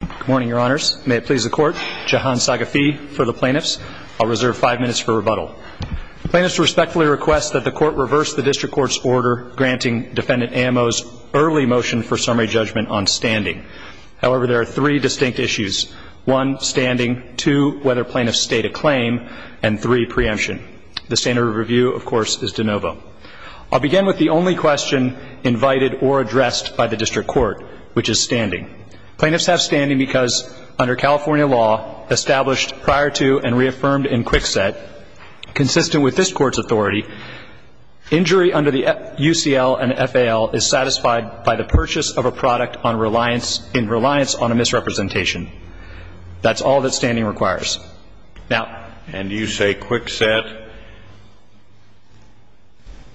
Good morning, Your Honors. May it please the Court. Jahan Saghafi for the Plaintiffs. I'll reserve five minutes for rebuttal. The Plaintiffs respectfully request that the Court reverse the District Court's order granting Defendant Amos' early motion for summary judgment on standing. However, there are three distinct issues. One, standing. Two, whether plaintiffs state a claim. And three, preemption. The standard of review, of course, is de novo. I'll begin with the only question invited or addressed by the District Court, which is standing. Plaintiffs have standing because under California law, established prior to and reaffirmed in Quick Set, consistent with this Court's authority, injury under the UCL and FAL is satisfied by the purchase of a product in reliance on a misrepresentation. That's all that standing requires. Now – And you say Quick Set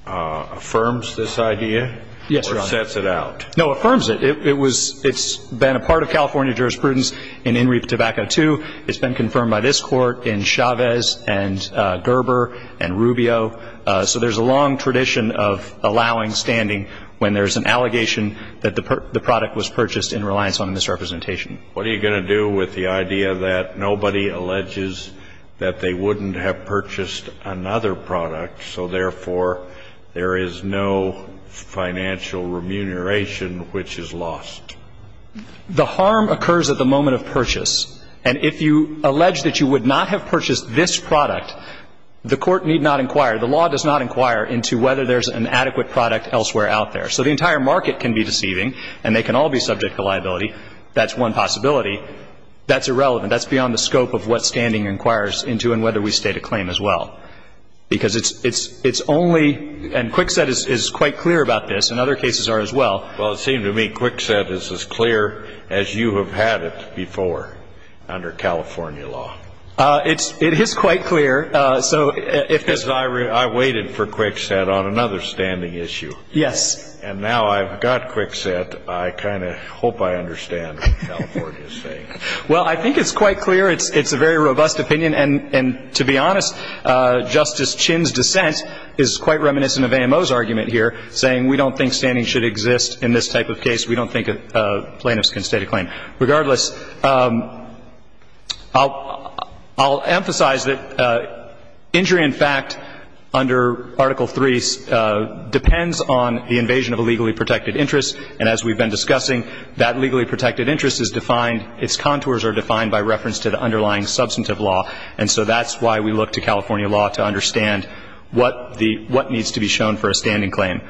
affirms this idea? Yes, Your Honor. Or sets it out? No, affirms it. It was – it's been a part of California jurisprudence in In Reap Tobacco II. It's been confirmed by this Court in Chavez and Gerber and Rubio. So there's a long tradition of allowing standing when there's an allegation that the product was purchased in reliance on a misrepresentation. What are you going to do with the idea that nobody alleges that they wouldn't have purchased another product, so therefore there is no financial remuneration which is lost? The harm occurs at the moment of purchase. And if you allege that you would not have purchased this product, the Court need not inquire – the law does not inquire into whether there's an adequate product elsewhere out there. So the entire market can be deceiving, and they can all be subject to liability. That's one possibility. That's irrelevant. That's beyond the scope of what standing inquires into and whether we state a claim as well. Because it's only – and Kwikset is quite clear about this, and other cases are as well. Well, it seems to me Kwikset is as clear as you have had it before under California law. It is quite clear. Because I waited for Kwikset on another standing issue. Yes. And now I've got Kwikset, I kind of hope I understand what California is saying. Well, I think it's quite clear. It's a very robust opinion. And to be honest, Justice Chinn's dissent is quite reminiscent of AMO's argument here, saying we don't think standing should exist in this type of case. We don't think plaintiffs can state a claim. Regardless, I'll emphasize that injury in fact under Article III depends on the invasion of a legally protected interest. And as we've been discussing, that legally protected interest is defined – its contours are defined by reference to the underlying substantive law. And so that's why we look to California law to understand what needs to be shown for a standing claim.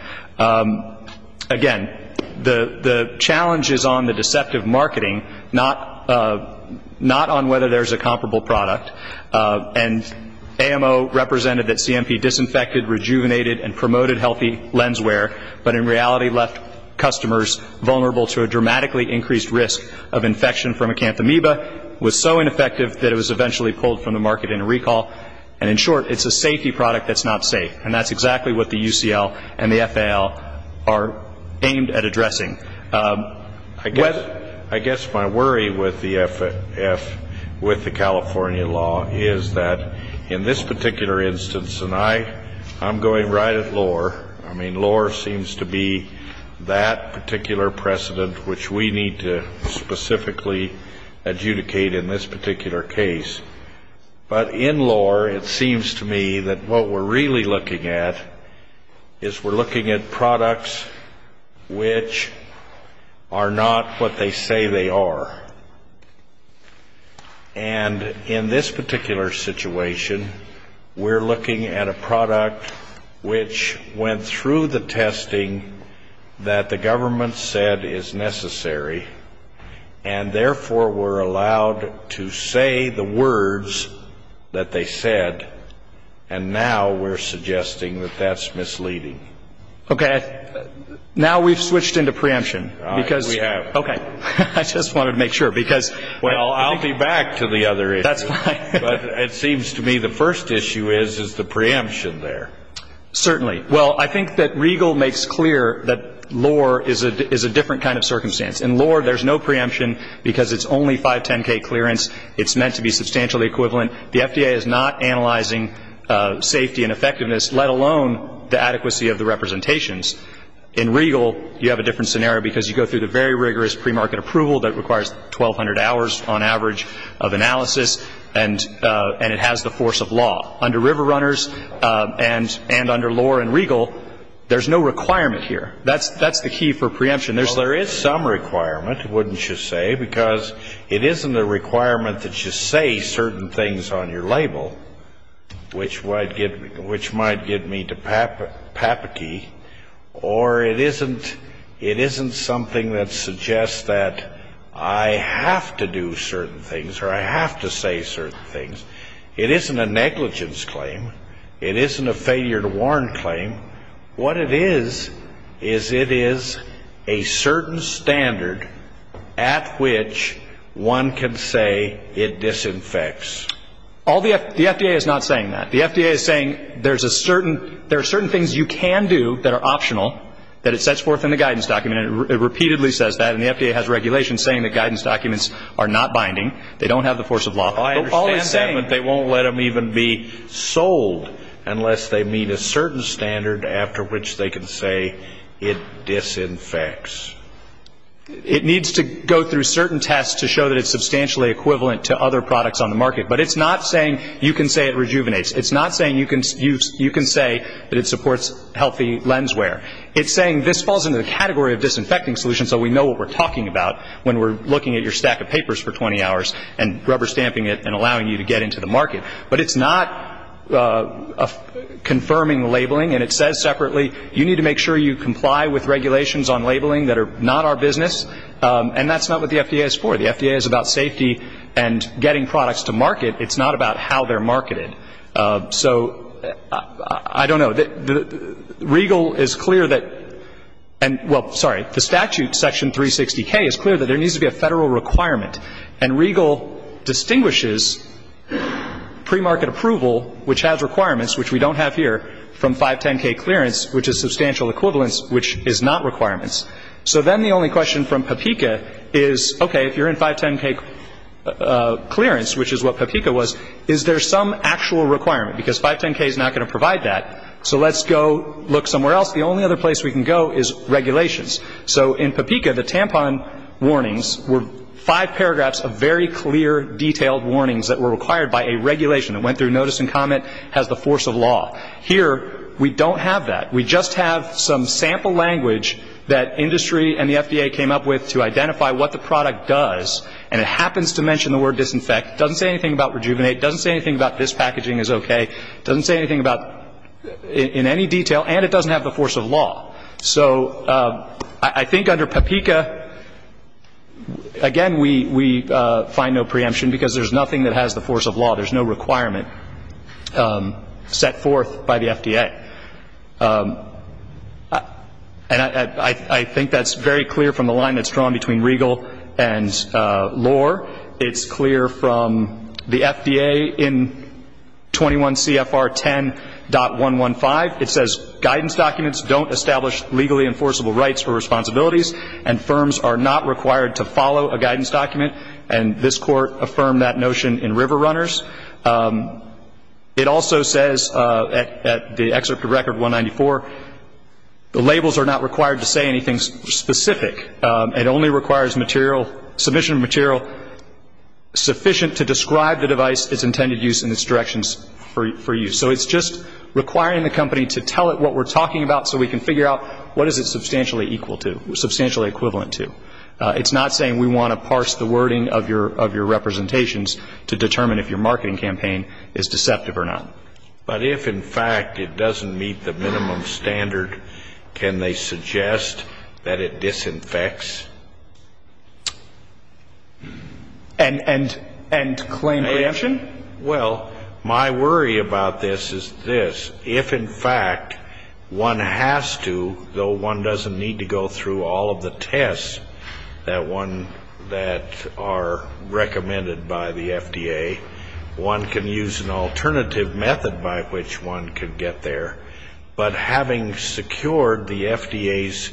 Again, the challenge is on the deceptive marketing, not on whether there's a comparable product. And AMO represented that CMP disinfected, rejuvenated, and promoted healthy lens wear, but in reality left customers vulnerable to a dramatically increased risk of infection from acanthamoeba. It was so ineffective that it was eventually pulled from the market into recall. And in short, it's a safety product that's not safe. And that's exactly what the UCL and the FAL are aimed at addressing. I guess my worry with the California law is that in this particular instance, and I'm going right at lore. I mean, lore seems to be that particular precedent which we need to specifically adjudicate in this particular case. But in lore, it seems to me that what we're really looking at is we're looking at products which are not what they say they are. And in this particular situation, we're looking at a product which went through the testing that the government said is necessary, and therefore were allowed to say the words that they said, and now we're suggesting that that's misleading. Okay. Now we've switched into preemption. We have. Okay. I just wanted to make sure. Well, I'll be back to the other issue. That's fine. But it seems to me the first issue is the preemption there. Certainly. Well, I think that Regal makes clear that lore is a different kind of circumstance. In lore, there's no preemption because it's only 510K clearance. It's meant to be substantially equivalent. The FDA is not analyzing safety and effectiveness, let alone the adequacy of the representations. In Regal, you have a different scenario because you go through the very rigorous premarket approval that requires 1,200 hours, on average, of analysis, and it has the force of law. Under RiverRunners and under lore in Regal, there's no requirement here. That's the key for preemption. There is some requirement, wouldn't you say, because it isn't a requirement that you say certain things on your label, which might get me to papity, or it isn't something that suggests that I have to do certain things or I have to say certain things. It isn't a negligence claim. It isn't a failure to warn claim. What it is is it is a certain standard at which one can say it disinfects. The FDA is not saying that. The FDA is saying there are certain things you can do that are optional that it sets forth in the guidance document. It repeatedly says that, and the FDA has regulations saying that guidance documents are not binding. They don't have the force of law. I understand that, but they won't let them even be sold unless they meet a certain standard after which they can say it disinfects. It needs to go through certain tests to show that it's substantially equivalent to other products on the market. But it's not saying you can say it rejuvenates. It's not saying you can say that it supports healthy lens wear. It's saying this falls into the category of disinfecting solution, so we know what we're talking about when we're looking at your stack of papers for 20 hours and rubber stamping it and allowing you to get into the market. But it's not confirming labeling, and it says separately, you need to make sure you comply with regulations on labeling that are not our business, and that's not what the FDA is for. The FDA is about safety and getting products to market. It's not about how they're marketed. So I don't know. The regal is clear that — well, sorry. The statute, section 360K, is clear that there needs to be a federal requirement, and regal distinguishes premarket approval, which has requirements, which we don't have here, from 510K clearance, which is substantial equivalence, which is not requirements. So then the only question from PAPICA is, okay, if you're in 510K clearance, which is what PAPICA was, is there some actual requirement? Because 510K is not going to provide that, so let's go look somewhere else. The only other place we can go is regulations. So in PAPICA, the tampon warnings were five paragraphs of very clear, detailed warnings that were required by a regulation that went through notice and comment as the force of law. Here, we don't have that. We just have some sample language that industry and the FDA came up with to identify what the product does, and it happens to mention the word disinfect. It doesn't say anything about rejuvenate. It doesn't say anything about this packaging is okay. It doesn't say anything in any detail, and it doesn't have the force of law. So I think under PAPICA, again, we find no preemption because there's nothing that has the force of law. There's no requirement set forth by the FDA. And I think that's very clear from the line that's drawn between Regal and Lore. It's clear from the FDA in 21 CFR 10.115. It says, Guidance documents don't establish legally enforceable rights or responsibilities, and firms are not required to follow a guidance document, and this Court affirmed that notion in River Runners. It also says at the excerpt of Record 194, the labels are not required to say anything specific. It only requires material, submission of material sufficient to describe the device, its intended use, and its directions for use. So it's just requiring the company to tell it what we're talking about so we can figure out what is it substantially equal to, substantially equivalent to. It's not saying we want to parse the wording of your representations to determine if your marketing campaign is deceptive or not. But if, in fact, it doesn't meet the minimum standard, can they suggest that it disinfects? And claim preemption? Well, my worry about this is this. If, in fact, one has to, though one doesn't need to go through all of the tests that are recommended by the FDA, one can use an alternative method by which one can get there. But having secured the FDA's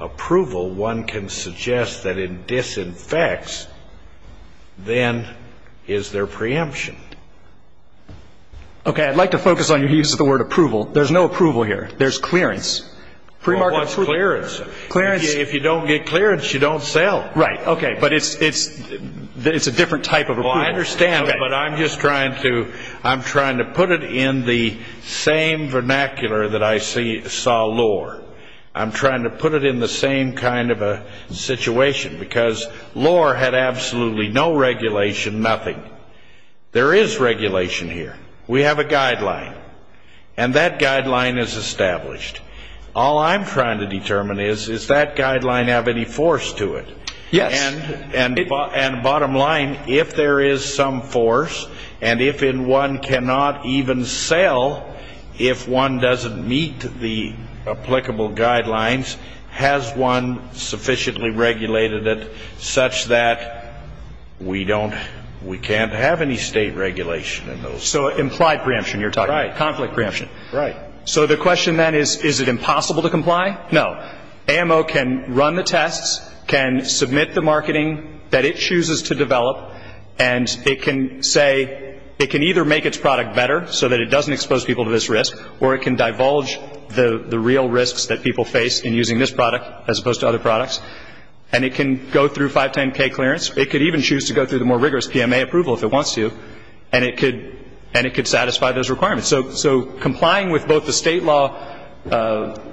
approval, one can suggest that it disinfects. Then is there preemption? Okay, I'd like to focus on your use of the word approval. There's no approval here. There's clearance. Well, what's clearance? If you don't get clearance, you don't sell. Right, okay. But it's a different type of approval. I understand, but I'm just trying to put it in the same vernacular that I saw Lohr. I'm trying to put it in the same kind of a situation, because Lohr had absolutely no regulation, nothing. There is regulation here. We have a guideline, and that guideline is established. All I'm trying to determine is, does that guideline have any force to it? Yes. And bottom line, if there is some force, and if one cannot even sell, if one doesn't meet the applicable guidelines, has one sufficiently regulated it such that we can't have any state regulation in those cases? So implied preemption, you're talking about. Right. Conflict preemption. Right. So the question then is, is it impossible to comply? No. AMO can run the tests, can submit the marketing that it chooses to develop, and it can say it can either make its product better so that it doesn't expose people to this risk, or it can divulge the real risks that people face in using this product as opposed to other products. And it can go through 510K clearance. It could even choose to go through the more rigorous PMA approval if it wants to, and it could satisfy those requirements. So complying with both the state law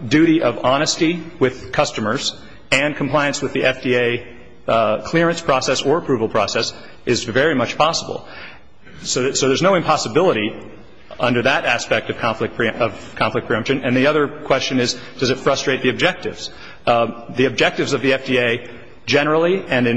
duty of honesty with customers and compliance with the FDA clearance process or approval process is very much possible. So there's no impossibility under that aspect of conflict preemption. And the other question is, does it frustrate the objectives? The objectives of the FDA generally and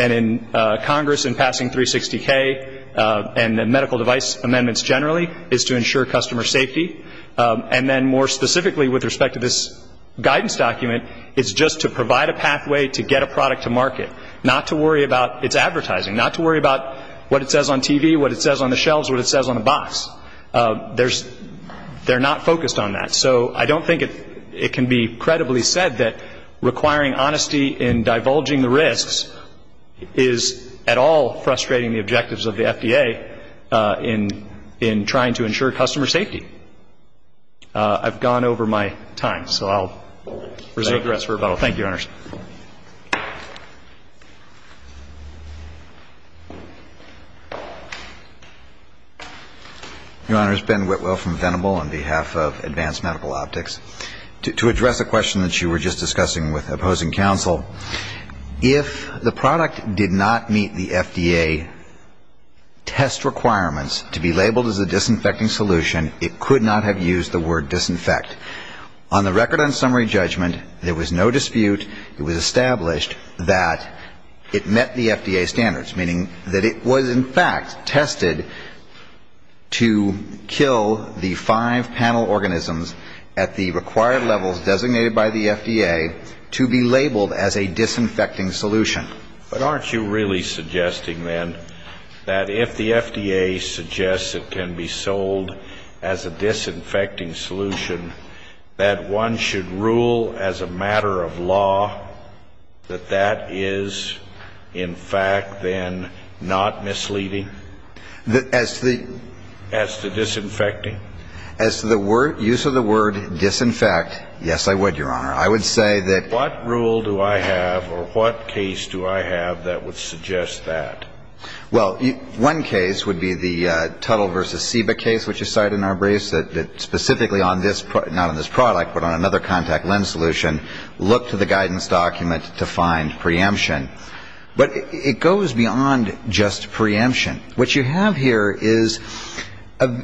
in Congress in passing 360K and the medical device amendments generally is to ensure customer safety. And then more specifically with respect to this guidance document, it's just to provide a pathway to get a product to market, not to worry about its advertising, not to worry about what it says on TV, what it says on the shelves, what it says on the box. They're not focused on that. So I don't think it can be credibly said that requiring honesty in divulging the risks is at all frustrating the objectives of the FDA in trying to ensure customer safety. I've gone over my time, so I'll reserve the rest for rebuttal. Thank you, Your Honors. Your Honors, Ben Whitwell from Venable on behalf of Advanced Medical Optics. To address a question that you were just discussing with opposing counsel, if the product did not meet the FDA test requirements to be labeled as a disinfecting solution, it could not have used the word disinfect. On the record on summary judgment, there was no dispute. It was established that it met the FDA standards, meaning that it was in fact tested to kill the five panel organisms at the required levels designated by the FDA to be labeled as a disinfecting solution. But aren't you really suggesting then that if the FDA suggests it can be sold as a disinfecting solution, that one should rule as a matter of law that that is in fact then not misleading? As to the? As to disinfecting? As to the use of the word disinfect, yes, I would, Your Honor. I would say that? What rule do I have or what case do I have that would suggest that? Well, one case would be the Tuttle versus Seba case which is cited in our briefs, that specifically on this, not on this product, but on another contact lens solution, look to the guidance document to find preemption. But it goes beyond just preemption. What you have here is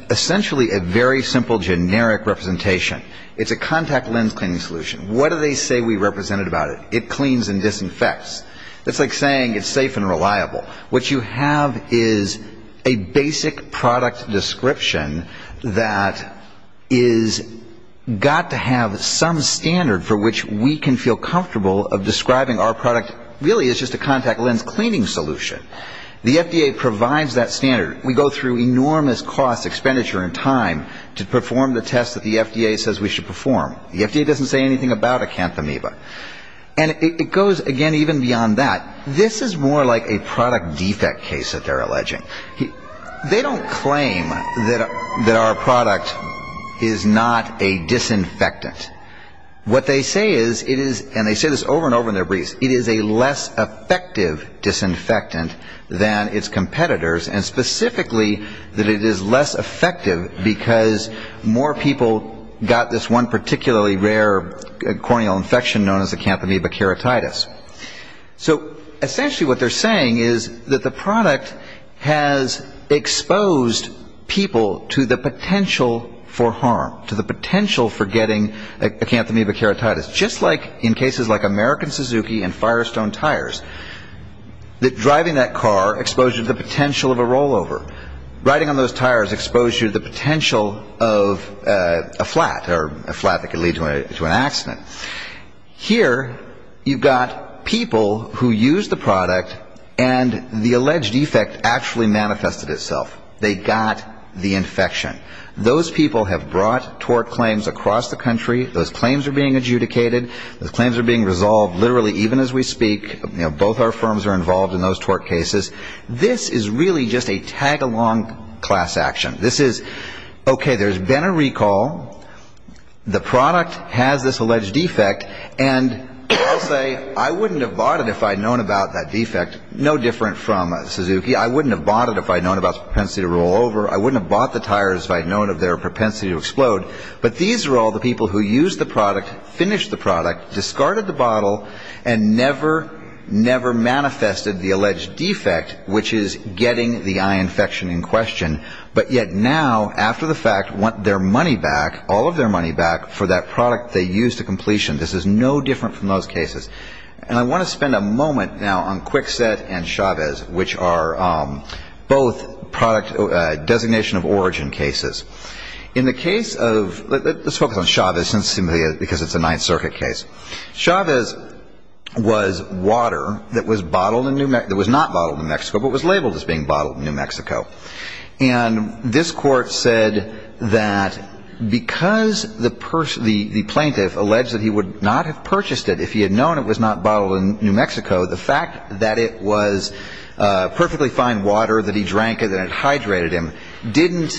essentially a very simple generic representation. It's a contact lens cleaning solution. What do they say we represent about it? It cleans and disinfects. It's like saying it's safe and reliable. What you have is a basic product description that is got to have some standard for which we can feel comfortable of describing our product really as just a contact lens cleaning solution. The FDA provides that standard. We go through enormous cost, expenditure, and time to perform the test that the FDA says we should perform. The FDA doesn't say anything about Acanthamoeba. And it goes, again, even beyond that. This is more like a product defect case that they're alleging. They don't claim that our product is not a disinfectant. What they say is, and they say this over and over in their briefs, is that it is a less effective disinfectant than its competitors, and specifically that it is less effective because more people got this one particularly rare corneal infection known as Acanthamoeba keratitis. So essentially what they're saying is that the product has exposed people to the potential for harm, to the potential for getting Acanthamoeba keratitis. Just like in cases like American Suzuki and Firestone tires, driving that car exposed you to the potential of a rollover. Riding on those tires exposed you to the potential of a flat, or a flat that could lead to an accident. Here you've got people who use the product, and the alleged defect actually manifested itself. They got the infection. Those people have brought tort claims across the country. Those claims are being adjudicated. Those claims are being resolved literally even as we speak. Both our firms are involved in those tort cases. This is really just a tag-along class action. This is, okay, there's been a recall. The product has this alleged defect. And they'll say, I wouldn't have bought it if I'd known about that defect. No different from Suzuki. I wouldn't have bought it if I'd known about the propensity to rollover. I wouldn't have bought the tires if I'd known of their propensity to explode. But these are all the people who used the product, finished the product, discarded the bottle, and never, never manifested the alleged defect, which is getting the eye infection in question. But yet now, after the fact, want their money back, all of their money back, for that product they used to completion. This is no different from those cases. And I want to spend a moment now on Kwikset and Chavez, which are both product designation of origin cases. In the case of, let's focus on Chavez since it's a Ninth Circuit case. Chavez was water that was bottled in New Mexico, that was not bottled in New Mexico, but was labeled as being bottled in New Mexico. And this Court said that because the plaintiff alleged that he would not have purchased it if he had known it was not bottled in New Mexico, the fact that it was perfectly fine water, that he drank it and it hydrated him, didn't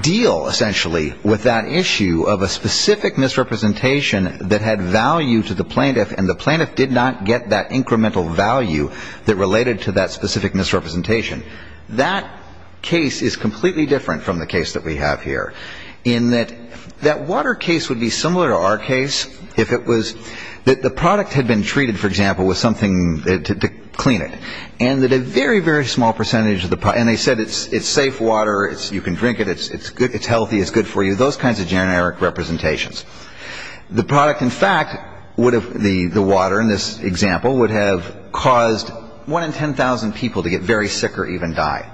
deal, essentially, with that issue of a specific misrepresentation that had value to the plaintiff, and the plaintiff did not get that incremental value that related to that specific misrepresentation. That case is completely different from the case that we have here, in that that water case would be similar to our case if it was, that the product had been treated, for example, with something to clean it, and that a very, very small percentage of the product, and they said it's safe water, you can drink it, it's healthy, it's good for you, those kinds of generic representations. The product, in fact, would have, the water in this example, would have caused one in 10,000 people to get very sick or even die.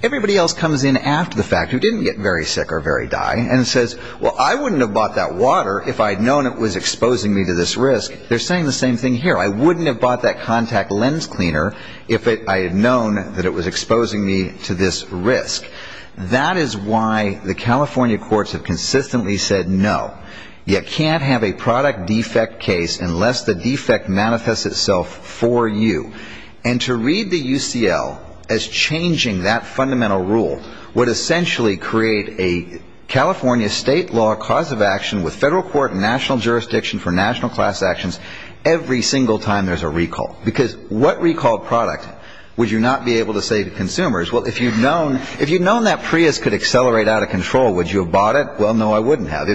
Everybody else comes in after the fact who didn't get very sick or very die and says, well, I wouldn't have bought that water if I had known it was exposing me to this risk. They're saying the same thing here. I wouldn't have bought that contact lens cleaner if I had known that it was exposing me to this risk. That is why the California courts have consistently said no. You can't have a product defect case unless the defect manifests itself for you. And to read the UCL as changing that fundamental rule would essentially create a California state law cause of action with federal court and national jurisdiction for national class actions every single time there's a recall. Because what recall product would you not be able to say to consumers, well, if you'd known that Prius could accelerate out of control, would you have bought it? Well, no, I wouldn't have.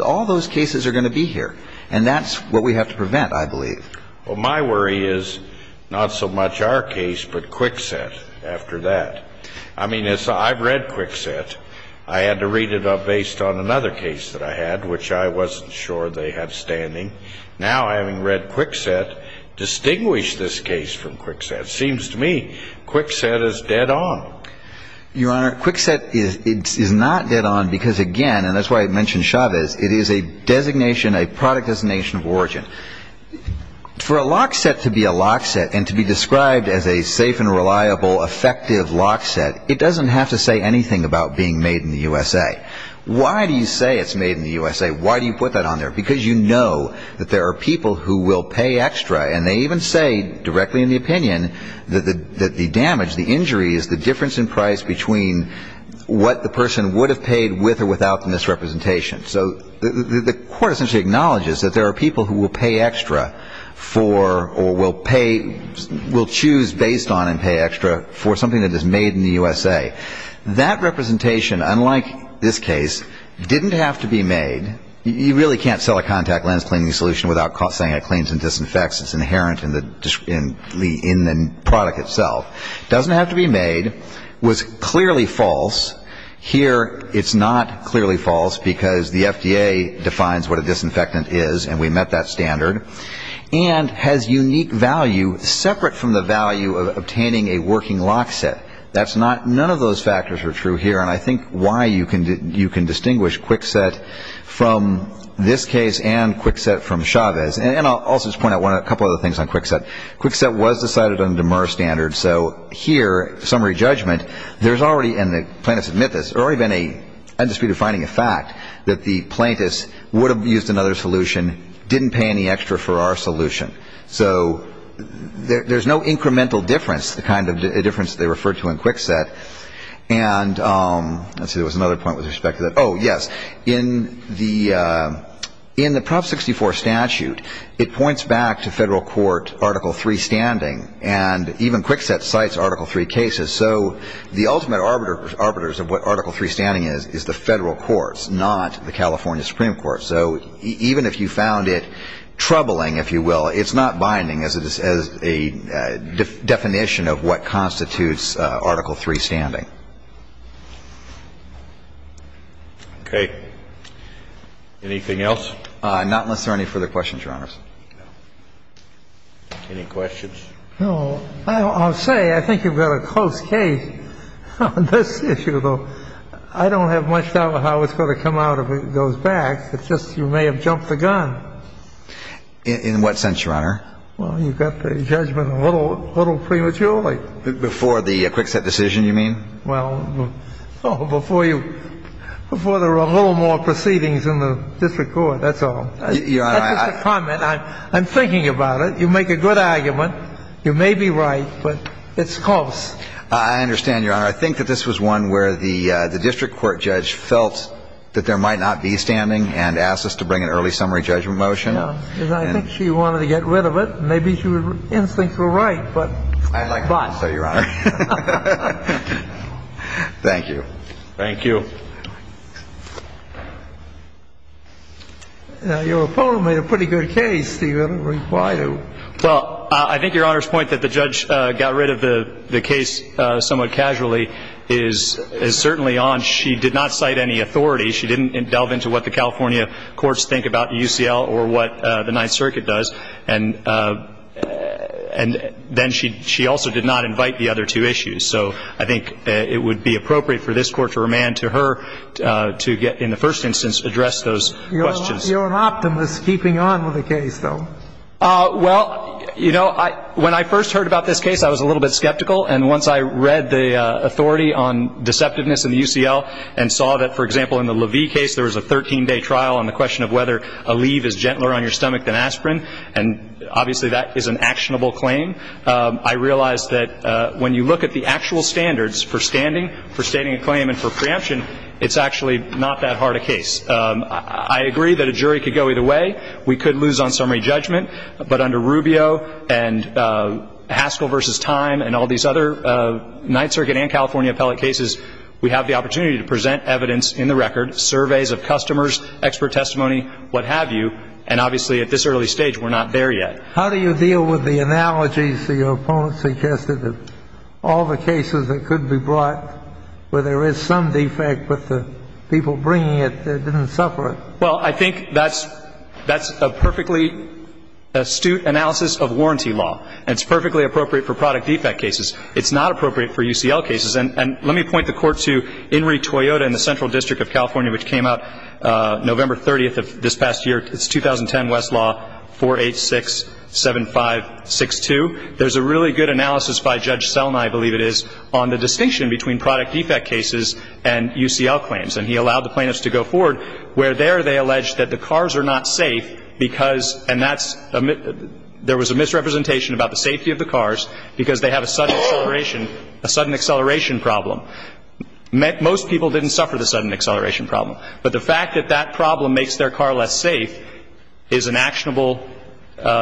All those cases are going to be here. And that's what we have to prevent, I believe. Well, my worry is not so much our case but Kwikset after that. I mean, I've read Kwikset. I had to read it up based on another case that I had, which I wasn't sure they had standing. Now, having read Kwikset, distinguish this case from Kwikset. Seems to me Kwikset is dead on. Your Honor, Kwikset is not dead on because, again, and that's why I mentioned Chavez, it is a designation, a product designation of origin. For a lock set to be a lock set and to be described as a safe and reliable, effective lock set, it doesn't have to say anything about being made in the USA. Why do you say it's made in the USA? Why do you put that on there? Because you know that there are people who will pay extra, and they even say directly in the opinion that the damage, the injury is the difference in price between what the person would have paid with or without the misrepresentation. So the court essentially acknowledges that there are people who will pay extra for or will choose based on and pay extra for something that is made in the USA. That representation, unlike this case, didn't have to be made. You really can't sell a contact lens cleaning solution without saying it cleans and disinfects. It's inherent in the product itself. It doesn't have to be made. It was clearly false. Here, it's not clearly false because the FDA defines what a disinfectant is, and we met that standard, and has unique value separate from the value of obtaining a working lock set. None of those factors are true here, and I think why you can distinguish Kwikset from this case and Kwikset from Chavez. And I'll also just point out a couple of other things on Kwikset. Kwikset was decided on a DMER standard. So here, summary judgment, there's already, and the plaintiffs admit this, there's already been a dispute of finding a fact that the plaintiffs would have used another solution, didn't pay any extra for our solution. So there's no incremental difference, the kind of difference they referred to in Kwikset. And let's see, there was another point with respect to that. Oh, yes. In the Prop 64 statute, it points back to federal court Article III standing, and even Kwikset cites Article III cases. So the ultimate arbiters of what Article III standing is is the federal courts, not the California Supreme Court. So even if you found it troubling, if you will, it's not binding as a definition of what constitutes Article III standing. Okay. Anything else? Not unless there are any further questions, Your Honors. Any questions? No. I'll say, I think you've got a close case on this issue, though. I don't have much doubt how it's going to come out if it goes back. It's just you may have jumped the gun. In what sense, Your Honor? Well, you've got the judgment a little prematurely. Before the Kwikset decision, you mean? Well, before you – before there were a little more proceedings in the district court, that's all. Your Honor, I – That's just a comment. I'm thinking about it. You make a good argument. You may be right, but it's close. I understand, Your Honor. I think that this was one where the district court judge felt that there might not be standing and asked us to bring an early summary judgment motion. I think she wanted to get rid of it. Maybe her instincts were right, but. I'd like to say, Your Honor. But. Thank you. Thank you. Your opponent made a pretty good case. Do you have a reply to it? Well, I think Your Honor's point that the judge got rid of the case somewhat casually is certainly on. She did not cite any authority. She didn't delve into what the California courts think about UCL or what the Ninth Circuit does. And then she also did not invite the other two issues. So I think it would be appropriate for this Court to remand to her to get, in the first instance, address those questions. You're an optimist keeping on with the case, though. Well, you know, when I first heard about this case, I was a little bit skeptical. And once I read the authority on deceptiveness in UCL and saw that, for example, in the Levy case, there was a 13-day trial on the question of whether a leave is gentler on your stomach than aspirin, and obviously that is an actionable claim. I realized that when you look at the actual standards for standing, for standing a claim, and for preemption, it's actually not that hard a case. I agree that a jury could go either way. We could lose on summary judgment. But under Rubio and Haskell v. Time and all these other Ninth Circuit and California appellate cases, we have the opportunity to present evidence in the record, surveys of customers, expert testimony, what have you. And obviously at this early stage, we're not there yet. How do you deal with the analogies that your opponent suggested of all the cases that could be brought where there is some defect, but the people bringing it didn't suffer it? Well, I think that's a perfectly astute analysis of warranty law. And it's perfectly appropriate for product defect cases. It's not appropriate for UCL cases. And let me point the Court to Henry Toyota in the Central District of California, which came out November 30th of this past year. It's 2010 Westlaw 4867562. There's a really good analysis by Judge Selnai, I believe it is, on the distinction between product defect cases and UCL claims. And he allowed the plaintiffs to go forward where there they allege that the cars are not safe because and that's there was a misrepresentation about the safety of the cars because they have a sudden acceleration, a sudden acceleration problem. Most people didn't suffer the sudden acceleration problem. But the fact that that problem makes their car less safe is an actionable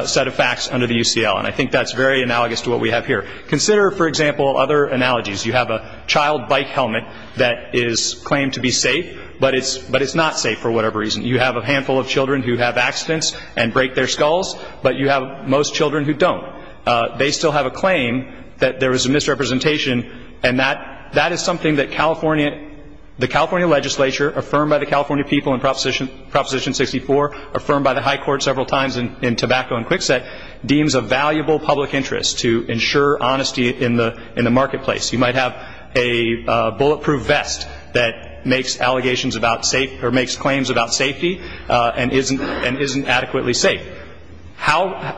set of facts under the UCL, and I think that's very analogous to what we have here. Consider, for example, other analogies. You have a child bike helmet that is claimed to be safe, but it's not safe for whatever reason. You have a handful of children who have accidents and break their skulls, but you have most children who don't. They still have a claim that there was a misrepresentation, and that is something that the California legislature, affirmed by the California people in Proposition 64, affirmed by the high court several times in Tobacco and Kwikset, deems a valuable public interest to ensure honesty in the marketplace. You might have a bulletproof vest that makes allegations about safety or makes claims about safety and isn't adequately safe.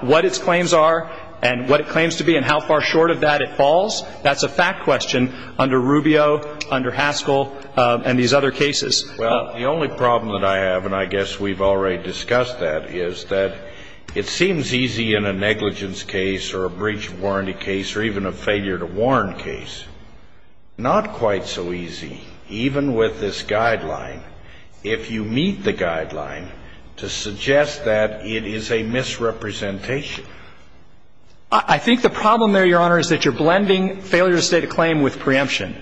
What its claims are and what it claims to be and how far short of that it falls, that's a fact question under Rubio, under Haskell, and these other cases. Well, the only problem that I have, and I guess we've already discussed that, is that it seems easy in a negligence case or a breach of warranty case or even a failure to warn case, not quite so easy, even with this guideline, if you meet the guideline, to suggest that it is a misrepresentation. I think the problem there, Your Honor, is that you're blending failure to state a claim with preemption.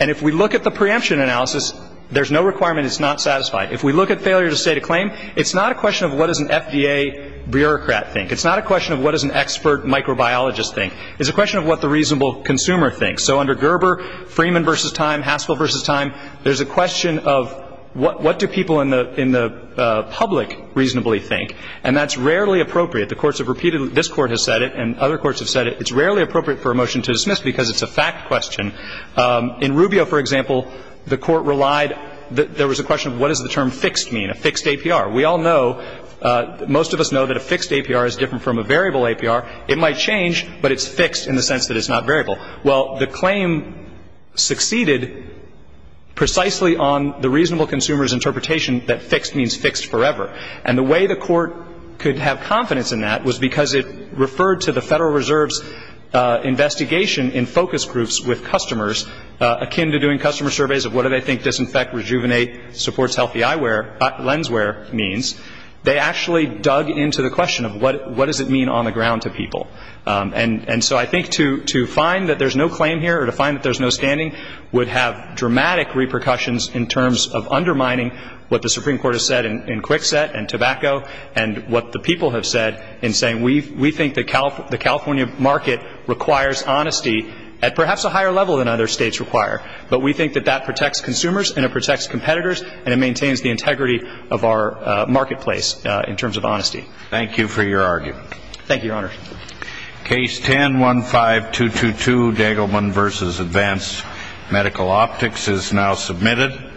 And if we look at the preemption analysis, there's no requirement it's not satisfied. If we look at failure to state a claim, it's not a question of what does an FDA bureaucrat think. It's not a question of what does an expert microbiologist think. It's a question of what the reasonable consumer thinks. So under Gerber, Freeman v. Time, Haskell v. Time, there's a question of what do people in the public reasonably think. And that's rarely appropriate. The courts have repeated it. This Court has said it, and other courts have said it. It's rarely appropriate for a motion to dismiss because it's a fact question. In Rubio, for example, the Court relied that there was a question of what does the term fixed mean, a fixed APR. We all know, most of us know that a fixed APR is different from a variable APR. It might change, but it's fixed in the sense that it's not variable. Well, the claim succeeded precisely on the reasonable consumer's interpretation that fixed means fixed forever. And the way the Court could have confidence in that was because it referred to the Federal Reserve's investigation in focus groups with customers akin to doing customer surveys of what do they think disinfect, rejuvenate, supports healthy eyewear, lenswear means. They actually dug into the question of what does it mean on the ground to people. And so I think to find that there's no claim here or to find that there's no standing would have dramatic repercussions in terms of undermining what the Supreme Court has said in Kwikset and tobacco and what the people have said in saying we think the California market requires honesty at perhaps a higher level than other states require. But we think that that protects consumers and it protects competitors and it maintains the integrity of our marketplace in terms of honesty. Thank you for your argument. Thank you, Your Honor. Case 10-15222, Degelman v. Advanced Medical Optics is now submitted.